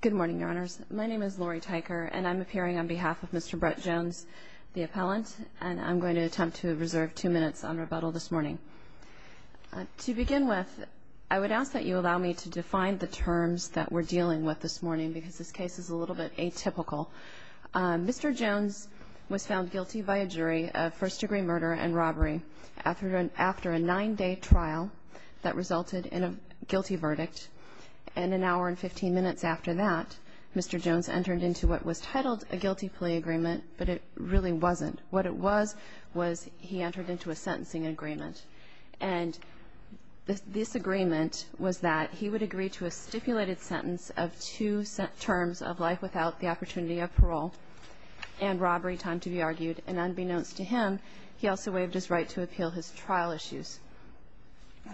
Good morning, Your Honors. My name is Lori Tyker, and I'm appearing on behalf of Mr. Brett Jones, the appellant, and I'm going to attempt to reserve two minutes on rebuttal this morning. To begin with, I would ask that you allow me to define the terms that we're dealing with this morning because this case is a little bit atypical. Mr. Jones was found guilty by a jury of first-degree murder and robbery after a nine-day trial that resulted in a guilty verdict. And an hour and 15 minutes after that, Mr. Jones entered into what was titled a guilty plea agreement, but it really wasn't. What it was was he entered into a sentencing agreement. And this agreement was that he would agree to a stipulated sentence of two terms of life without the opportunity of parole and robbery time to be argued. And unbeknownst to him, he also waived his right to appeal his trial issues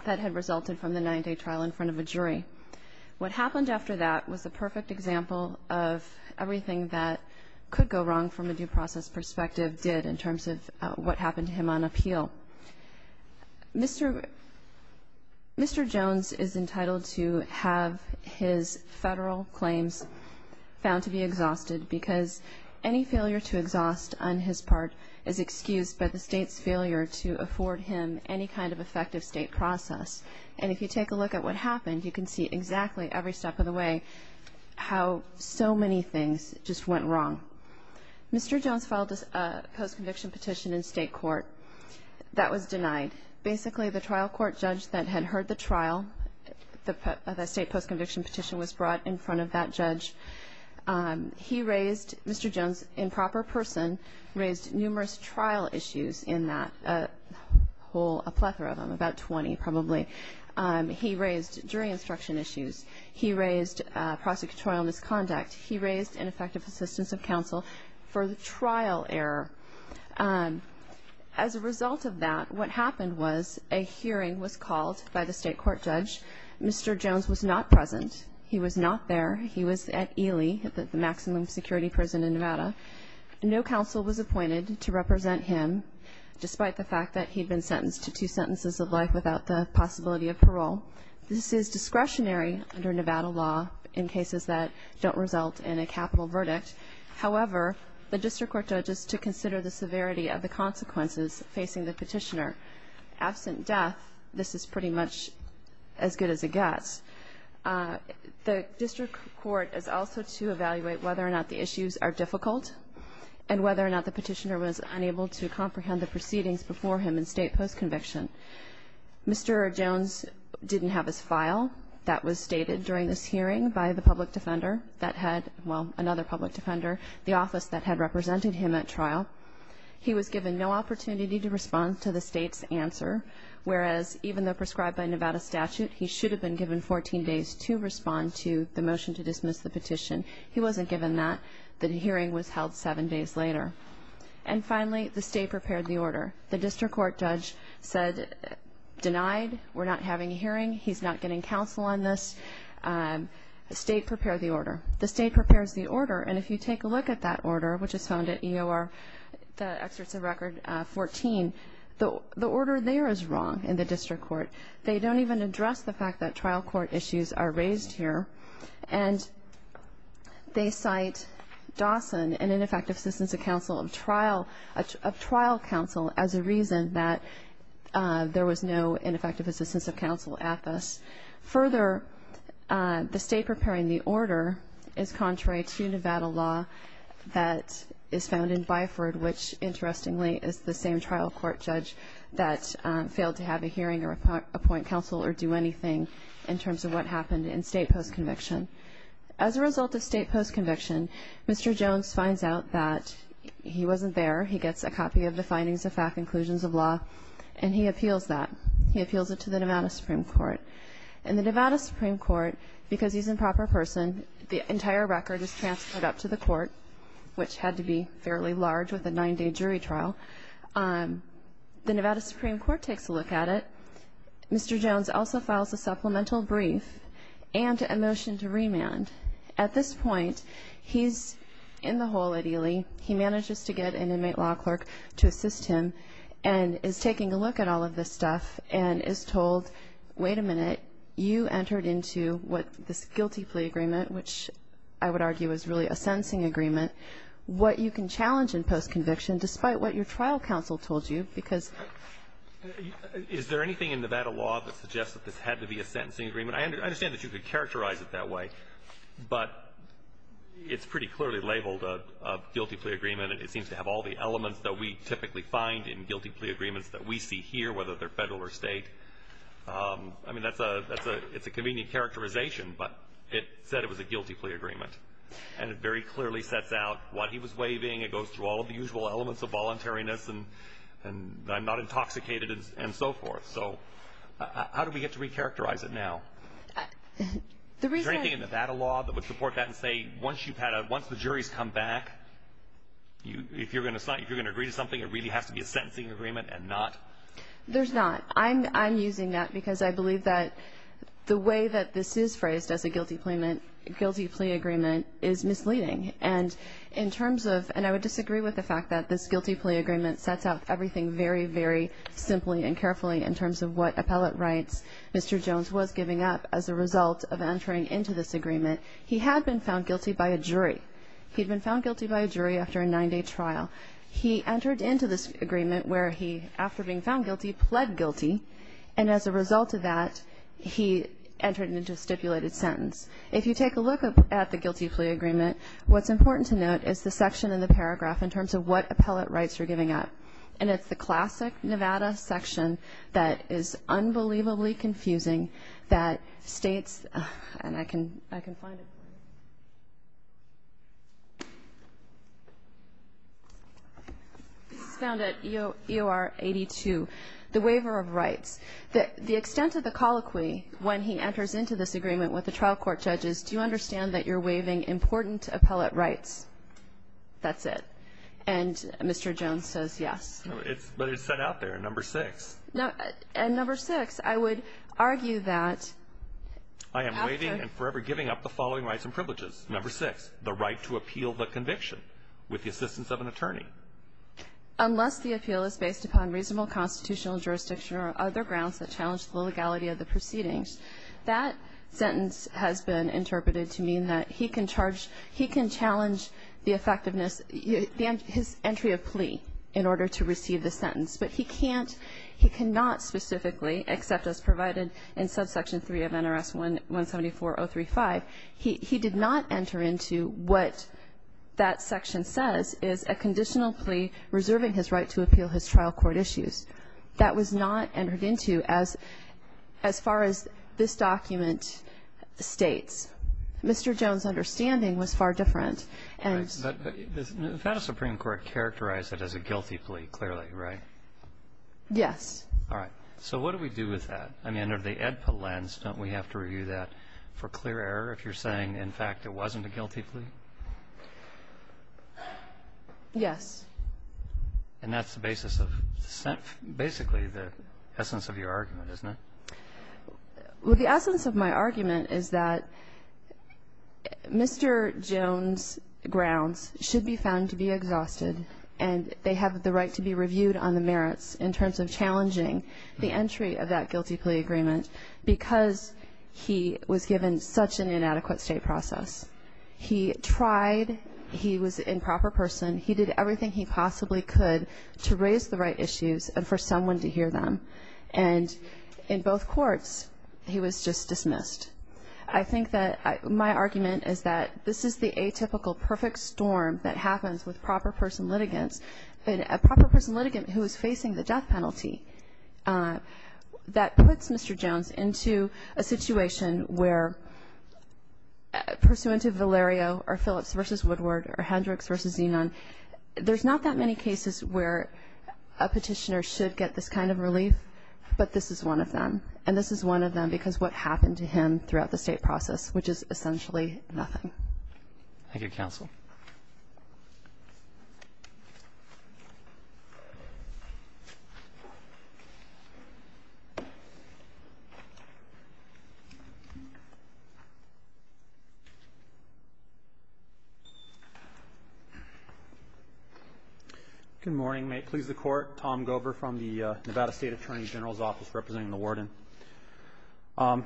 that had resulted from the nine-day trial in front of a jury. What happened after that was a perfect example of everything that could go wrong from a due process perspective did in terms of what happened to him on appeal. Mr. Jones is entitled to have his federal claims found to be exhausted because any failure to exhaust on his part is excused by the state's failure to afford him any kind of effective state process. And if you take a look at what happened, you can see exactly every step of the way how so many things just went wrong. Mr. Jones filed a post-conviction petition in state court that was denied. Basically, the trial court judge that had heard the trial of the state post-conviction petition was brought in front of that judge. He raised, Mr. Jones, in proper person, raised numerous trial issues in that whole, a plethora of them, about 20 probably. He raised jury instruction issues. He raised prosecutorial misconduct. He raised ineffective assistance of counsel for the trial error. As a result of that, what happened was a hearing was called by the state court judge. Mr. Jones was not present. He was not there. He was at Ely, the maximum security prison in Nevada. No counsel was appointed to represent him, despite the fact that he had been sentenced to two sentences of life without the possibility of parole. This is discretionary under Nevada law in cases that don't result in a capital verdict. However, the district court judge is to consider the severity of the consequences facing the petitioner. Absent death, this is pretty much as good as it gets. The district court is also to evaluate whether or not the issues are difficult and whether or not the petitioner was unable to comprehend the proceedings before him in state post-conviction. Mr. Jones didn't have his file. That was stated during this hearing by the public defender that had, well, another public defender, the office that had represented him at trial. He was given no opportunity to respond to the state's answer, whereas even though prescribed by Nevada statute, he should have been given 14 days to respond to the motion to dismiss the petition. He wasn't given that. The hearing was held seven days later. And finally, the state prepared the order. The district court judge said, denied. We're not having a hearing. He's not getting counsel on this. The state prepared the order. The state prepares the order, and if you take a look at that order, which is found at EOR, the excerpts of record 14, the order there is wrong in the district court. They don't even address the fact that trial court issues are raised here, and they cite Dawson, an ineffective assistance of counsel of trial counsel, as a reason that there was no ineffective assistance of counsel at this. Further, the state preparing the order is contrary to Nevada law that is found in Byford, which, interestingly, is the same trial court judge that failed to have a hearing or appoint counsel or do anything in terms of what happened in state post-conviction. As a result of state post-conviction, Mr. Jones finds out that he wasn't there. He gets a copy of the findings of FAC conclusions of law, and he appeals that. He appeals it to the Nevada Supreme Court. And the Nevada Supreme Court, because he's an improper person, the entire record is transferred up to the court, which had to be fairly large with a nine-day jury trial. The Nevada Supreme Court takes a look at it. Mr. Jones also files a supplemental brief and a motion to remand. At this point, he's in the hole, ideally. He manages to get an inmate law clerk to assist him and is taking a look at all of this stuff and is told, wait a minute, you entered into what this guilty plea agreement, which I would argue is really a sentencing agreement, what you can challenge in post-conviction despite what your trial counsel told you. Is there anything in Nevada law that suggests that this had to be a sentencing agreement? I understand that you could characterize it that way, but it's pretty clearly labeled a guilty plea agreement. It seems to have all the elements that we typically find in guilty plea agreements that we see here, whether they're Federal or State. I mean, it's a convenient characterization, but it said it was a guilty plea agreement, and it very clearly sets out what he was waiving. It goes through all of the usual elements of voluntariness and I'm not intoxicated and so forth. So how do we get to recharacterize it now? Is there anything in Nevada law that would support that and say once the jury's come back, if you're going to agree to something, it really has to be a sentencing agreement and not? There's not. I'm using that because I believe that the way that this is phrased as a guilty plea agreement is misleading, and I would disagree with the fact that this guilty plea agreement sets out everything very, very simply and carefully in terms of what appellate rights Mr. Jones was giving up as a result of entering into this agreement. He had been found guilty by a jury. He'd been found guilty by a jury after a nine-day trial. He entered into this agreement where he, after being found guilty, pled guilty, and as a result of that, he entered into a stipulated sentence. If you take a look at the guilty plea agreement, what's important to note is the section in the paragraph in terms of what appellate rights you're giving up, and it's the classic Nevada section that is unbelievably confusing that states, and I can find it. This is found at EOR 82, the waiver of rights. The extent of the colloquy when he enters into this agreement with the trial court judges, do you understand that you're waiving important appellate rights? That's it. And Mr. Jones says yes. But it's set out there in No. 6. No. In No. 6, I would argue that after ---- I am waiving and forever giving up the following rights and privileges. No. 6, the right to appeal the conviction with the assistance of an attorney. Unless the appeal is based upon reasonable constitutional jurisdiction or other grounds that challenge the legality of the proceedings, that sentence has been interpreted to mean that he can charge, he can challenge the effectiveness, his entry of plea in order to receive the sentence. But he can't, he cannot specifically, except as provided in subsection 3 of NRS 174035, he did not enter into what that section says is a conditional plea reserving his right to appeal his trial court issues. That was not entered into as far as this document states. Mr. Jones' understanding was far different. Right. But the Nevada Supreme Court characterized it as a guilty plea, clearly, right? Yes. All right. So what do we do with that? I mean, under the AEDPA lens, don't we have to review that for clear error if you're saying, in fact, it wasn't a guilty plea? Yes. And that's the basis of basically the essence of your argument, isn't it? Well, the essence of my argument is that Mr. Jones' grounds should be found to be exhausted, and they have the right to be reviewed on the merits in terms of challenging the entry of that guilty plea agreement because he was given such an inadequate state process. He tried, he was an improper person, he did everything he possibly could to raise the right issues and for someone to hear them. And in both courts, he was just dismissed. I think that my argument is that this is the atypical perfect storm that happens with proper person litigants. And a proper person litigant who is facing the death penalty, that puts Mr. Jones into a situation where pursuant to Valerio or Phillips v. Woodward or Hendricks v. Zenon, there's not that many cases where a petitioner should get this kind of relief, but this is one of them. And this is one of them because what happened to him throughout the state process, which is essentially nothing. Thank you, counsel. Good morning. May it please the Court. Tom Gober from the Nevada State Attorney General's Office representing the warden. My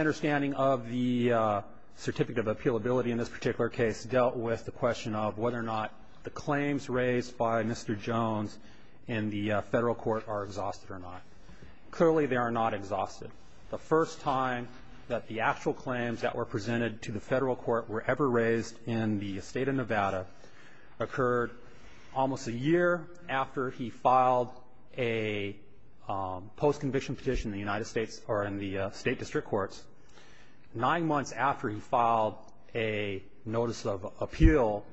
understanding of the certificate of appealability in this particular case dealt with the question of whether or not the claims raised by Mr. Jones in the federal court are exhausted or not. Clearly, they are not exhausted. The first time that the actual claims that were presented to the federal court were ever raised in the state of Nevada occurred almost a year after he filed a post-conviction petition in the United States or in the state district courts, nine months after he filed a notice of appeal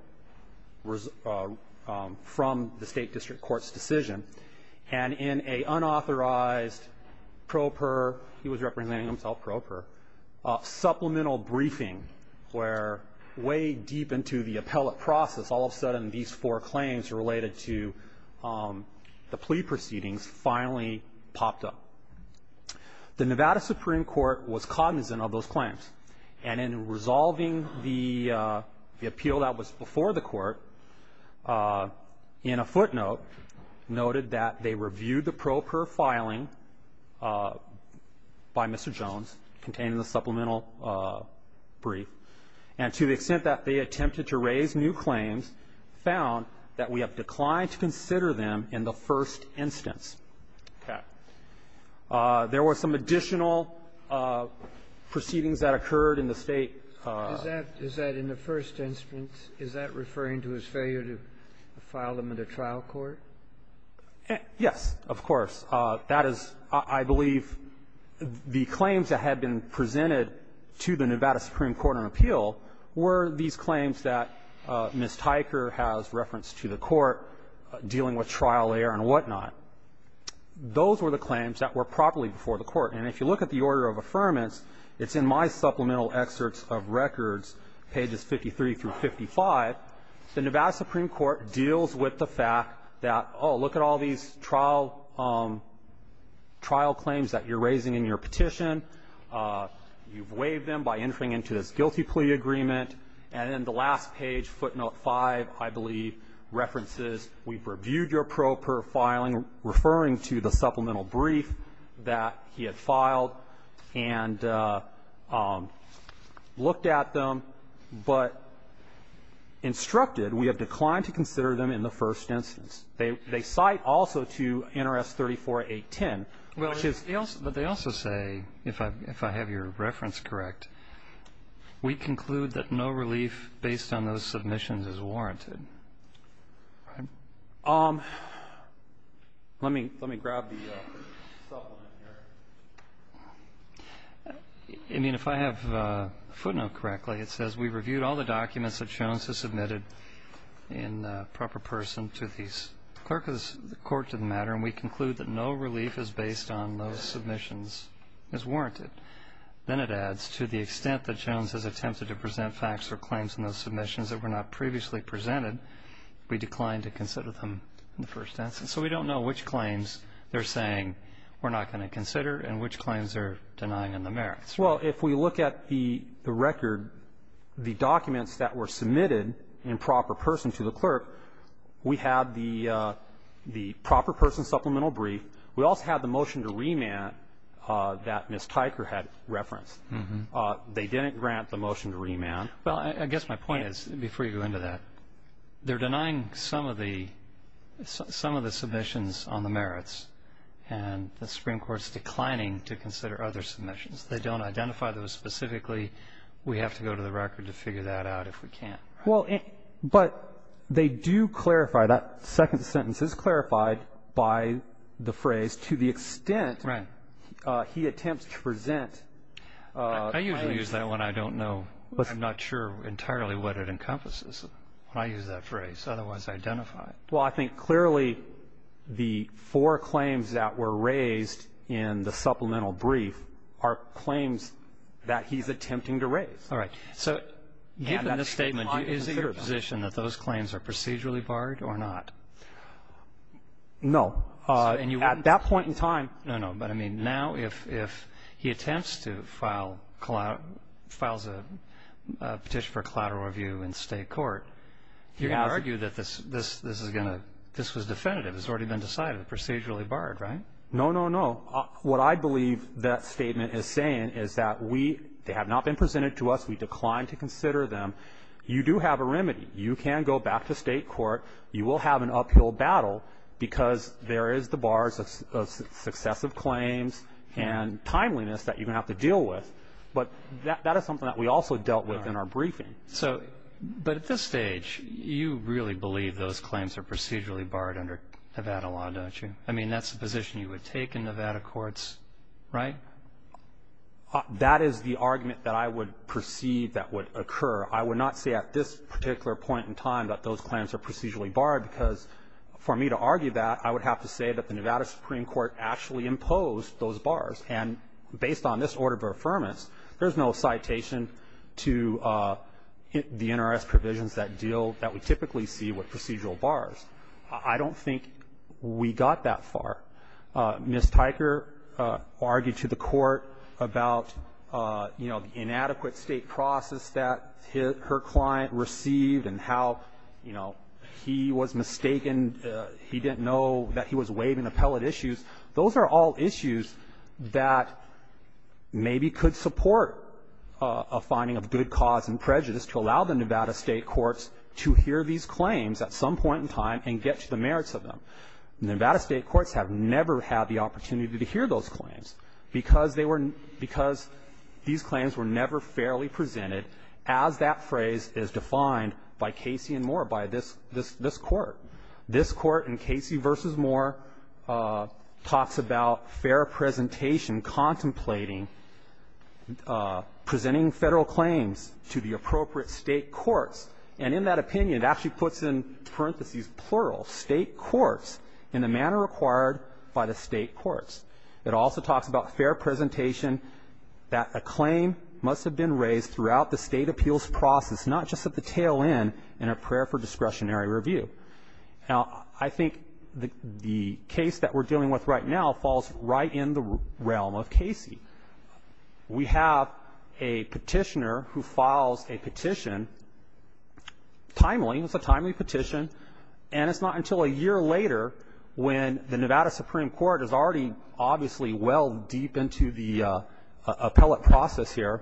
from the state district court's decision. And in an unauthorized, pro per, he was representing himself pro per, supplemental briefing where way deep into the appellate process, all of a sudden these four claims related to the plea proceedings finally popped up. The Nevada Supreme Court was cognizant of those claims. And in resolving the appeal that was before the court, in a footnote, noted that they And to the extent that they attempted to raise new claims, found that we have declined to consider them in the first instance. Okay. There were some additional proceedings that occurred in the State of Nevada. Is that in the first instance, is that referring to his failure to file them in the trial court? Yes, of course. That is, I believe, the claims that had been presented to the Nevada Supreme Court on appeal were these claims that Ms. Tyker has referenced to the court dealing with trial error and whatnot. Those were the claims that were properly before the court. And if you look at the order of affirmance, it's in my supplemental excerpts of records, pages 53 through 55, the Nevada Supreme Court deals with the fact that, oh, look at all these trial claims that you're raising in your petition. You've waived them by entering into this guilty plea agreement. And then the last page, footnote 5, I believe, references we've reviewed your filing, referring to the supplemental brief that he had filed and looked at them, but instructed we have declined to consider them in the first instance. They cite also to NRS 34810, which is ---- But they also say, if I have your reference correct, we conclude that no relief based on those submissions is warranted. Let me grab the supplement here. I mean, if I have footnote correctly, it says we've reviewed all the documents that Jones has submitted in proper person to the clerk of the court to the matter, and we conclude that no relief is based on those submissions as warranted. Then it adds, to the extent that Jones has attempted to present facts or claims in those submissions that were not previously presented, we declined to consider them in the first instance. So we don't know which claims they're saying we're not going to consider and which claims they're denying in the merits. Well, if we look at the record, the documents that were submitted in proper person to the clerk, we have the proper person supplemental brief. We also have the motion to remand that Ms. Tyker had referenced. They didn't grant the motion to remand. Well, I guess my point is, before you go into that, they're denying some of the submissions on the merits, and the Supreme Court's declining to consider other claims, and identify those specifically. We have to go to the record to figure that out if we can. Well, but they do clarify, that second sentence is clarified by the phrase, to the extent he attempts to present. I usually use that one. I don't know. I'm not sure entirely what it encompasses when I use that phrase, otherwise identify it. Well, I think clearly the four claims that were raised in the supplemental brief are claims that he's attempting to raise. All right. So given this statement, is it your position that those claims are procedurally barred or not? No. At that point in time, no, no. But, I mean, now if he attempts to file, files a petition for collateral review in state court, you're going to argue that this is going to, this was definitive. It's already been decided. Procedurally barred, right? No, no, no. What I believe that statement is saying is that we, they have not been presented to us. We declined to consider them. You do have a remedy. You can go back to state court. You will have an uphill battle because there is the bars of successive claims and timeliness that you're going to have to deal with. But that is something that we also dealt with in our briefing. So, but at this stage, you really believe those claims are procedurally barred under Nevada law, don't you? I mean, that's the position you would take in Nevada courts, right? That is the argument that I would perceive that would occur. I would not say at this particular point in time that those claims are procedurally barred because for me to argue that, I would have to say that the Nevada Supreme Court actually imposed those bars. And based on this order of affirmance, there's no citation to the NRS provisions that deal, that we typically see with procedural bars. I don't think we got that far. Ms. Tyker argued to the Court about, you know, inadequate state process that her client received and how, you know, he was mistaken, he didn't know that he was waiving appellate issues. Those are all issues that maybe could support a finding of good cause and prejudice to allow the Nevada state courts to hear these claims at some point in time and get to the merits of them. Nevada state courts have never had the opportunity to hear those claims because they were, because these claims were never fairly presented as that phrase is defined by Casey and Moore, by this court. This court in Casey v. Moore talks about fair presentation, contemplating, presenting Federal claims to the appropriate state courts. And in that opinion, it actually puts in parentheses, plural, state courts in the manner required by the state courts. It also talks about fair presentation that a claim must have been raised throughout the state appeals process, not just at the tail end in a prayer for discretionary review. Now, I think the case that we're dealing with right now falls right in the realm of we have a petitioner who files a petition, timely, it's a timely petition, and it's not until a year later when the Nevada Supreme Court is already obviously well deep into the appellate process here.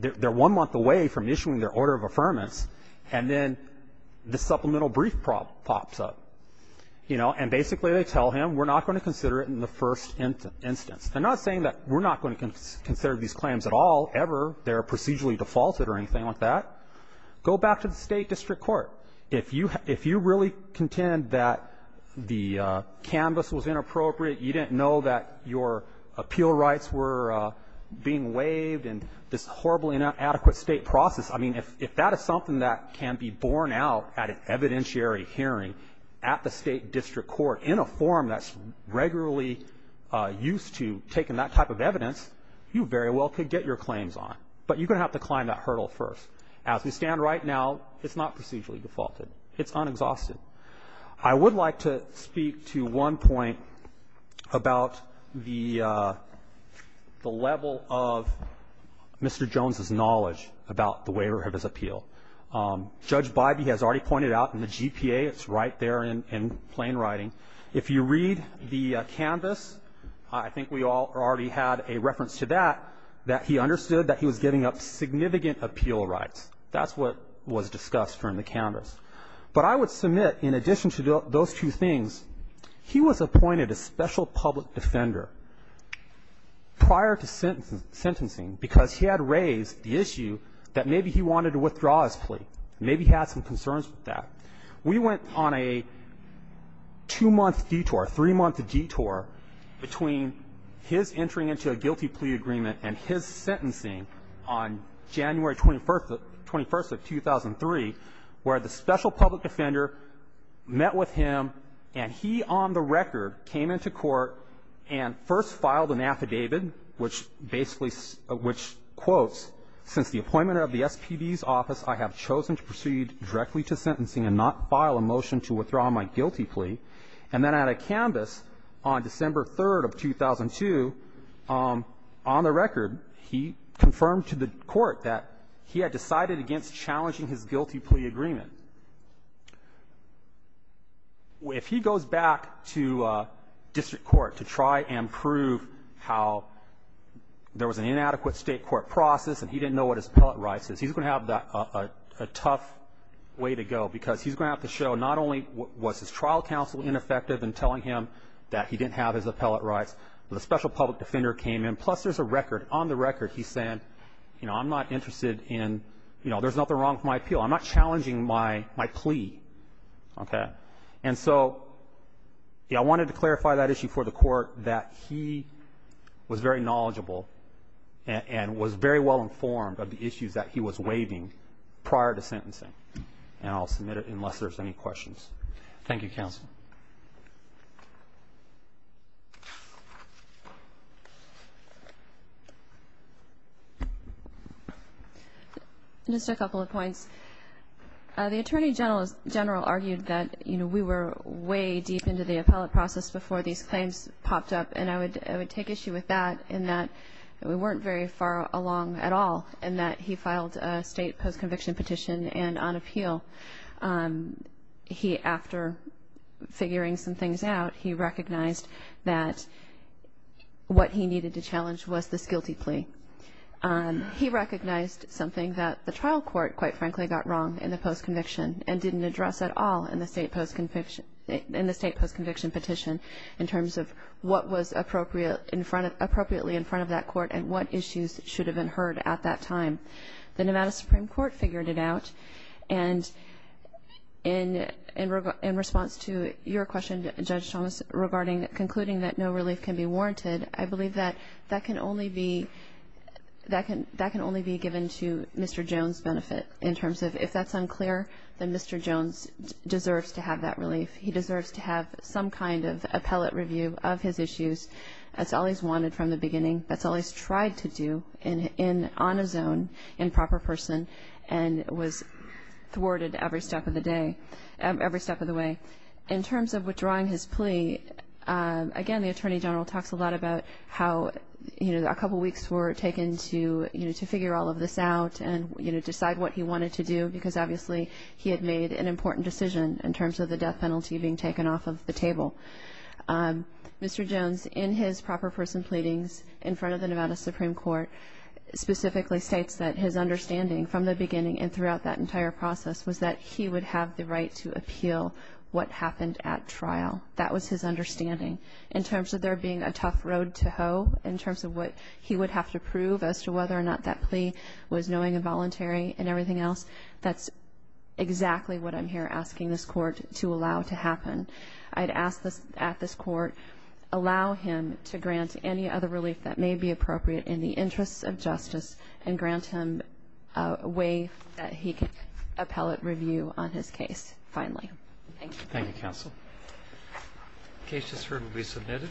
They're one month away from issuing their order of affirmance, and then this supplemental brief pops up. You know, and basically they tell him, we're not going to consider it in the first instance. They're not saying that we're not going to consider these claims at all, ever, they're procedurally defaulted or anything like that. Go back to the State district court. If you really contend that the canvas was inappropriate, you didn't know that your appeal rights were being waived and this horribly inadequate State process, I mean, if that is something that can be borne out at an evidentiary hearing at the State district court in a forum that's regularly used to taking that type of evidence, you very well could get your claims on. But you're going to have to climb that hurdle first. As we stand right now, it's not procedurally defaulted. It's unexhausted. I would like to speak to one point about the level of Mr. Jones's knowledge about the waiver of his appeal. Judge Bybee has already pointed out in the GPA, it's right there in plain writing. If you read the canvas, I think we all already had a reference to that, that he understood that he was giving up significant appeal rights. That's what was discussed from the canvas. But I would submit, in addition to those two things, he was appointed a special public defender prior to sentencing because he had raised the issue that maybe he wanted to cause plea, maybe he had some concerns with that. We went on a two-month detour, three-month detour between his entering into a guilty plea agreement and his sentencing on January 21st of 2003, where the special public defender met with him, and he on the record came into court and first filed an affidavit which basically quotes, since the appointment of the SPD's office, I have chosen to proceed directly to sentencing and not file a motion to withdraw my guilty plea. And then on a canvas on December 3rd of 2002, on the record, he confirmed to the court that he had decided against challenging his guilty plea agreement. If he goes back to district court to try and prove how there was an inadequate state court process and he didn't know what his appellate rights is, he's going to have a tough way to go because he's going to have to show not only was his trial counsel ineffective in telling him that he didn't have his appellate rights, but a special public defender came in. Plus, there's a record. On the record, he's saying, you know, I'm not interested in, you know, there's nothing wrong with my appeal. I'm not challenging my plea. Okay? And so, you know, I wanted to clarify that issue for the court that he was very knowledgeable and was very well informed of the issues that he was waiving prior to sentencing. And I'll submit it unless there's any questions. Thank you, counsel. Just a couple of points. The Attorney General argued that, you know, we were way deep into the appellate process before these claims popped up. And I would take issue with that in that we weren't very far along at all in that he filed a state post-conviction petition and on appeal. He, after figuring some things out, he recognized that what he needed to challenge was this guilty plea. He recognized something that the trial court, quite frankly, got wrong in the post-conviction and didn't address at all in the state post-conviction petition in terms of what was appropriately in front of that court and what issues should have been heard at that time. The Nevada Supreme Court figured it out. And in response to your question, Judge Thomas, regarding concluding that no relief can be warranted, I believe that that can only be given to Mr. Jones' benefit in terms of if that's unclear, then Mr. Jones deserves to have that relief. He deserves to have some kind of appellate review of his issues. That's all he's wanted from the beginning. That's all he's tried to do on his own in proper person and was thwarted every step of the way. In terms of withdrawing his plea, again, the Attorney General talks a lot about how a couple weeks were taken to figure all of this out and decide what he wanted to do because, obviously, he had made an important decision in terms of the death penalty being taken off of the table. Mr. Jones, in his proper person pleadings in front of the Nevada Supreme Court, specifically states that his understanding from the beginning and throughout that entire process was that he would have the right to appeal what happened at trial. That was his understanding. In terms of there being a tough road to hoe, in terms of what he would have to prove as to whether or not that plea was knowing and voluntary and everything else, that's exactly what I'm here asking this court to allow to happen. I'd ask at this court, allow him to grant any other relief that may be appropriate in the interests of justice and grant him a way that he can appellate review on his case finally. Thank you. Thank you, Counsel. The case just heard will be submitted.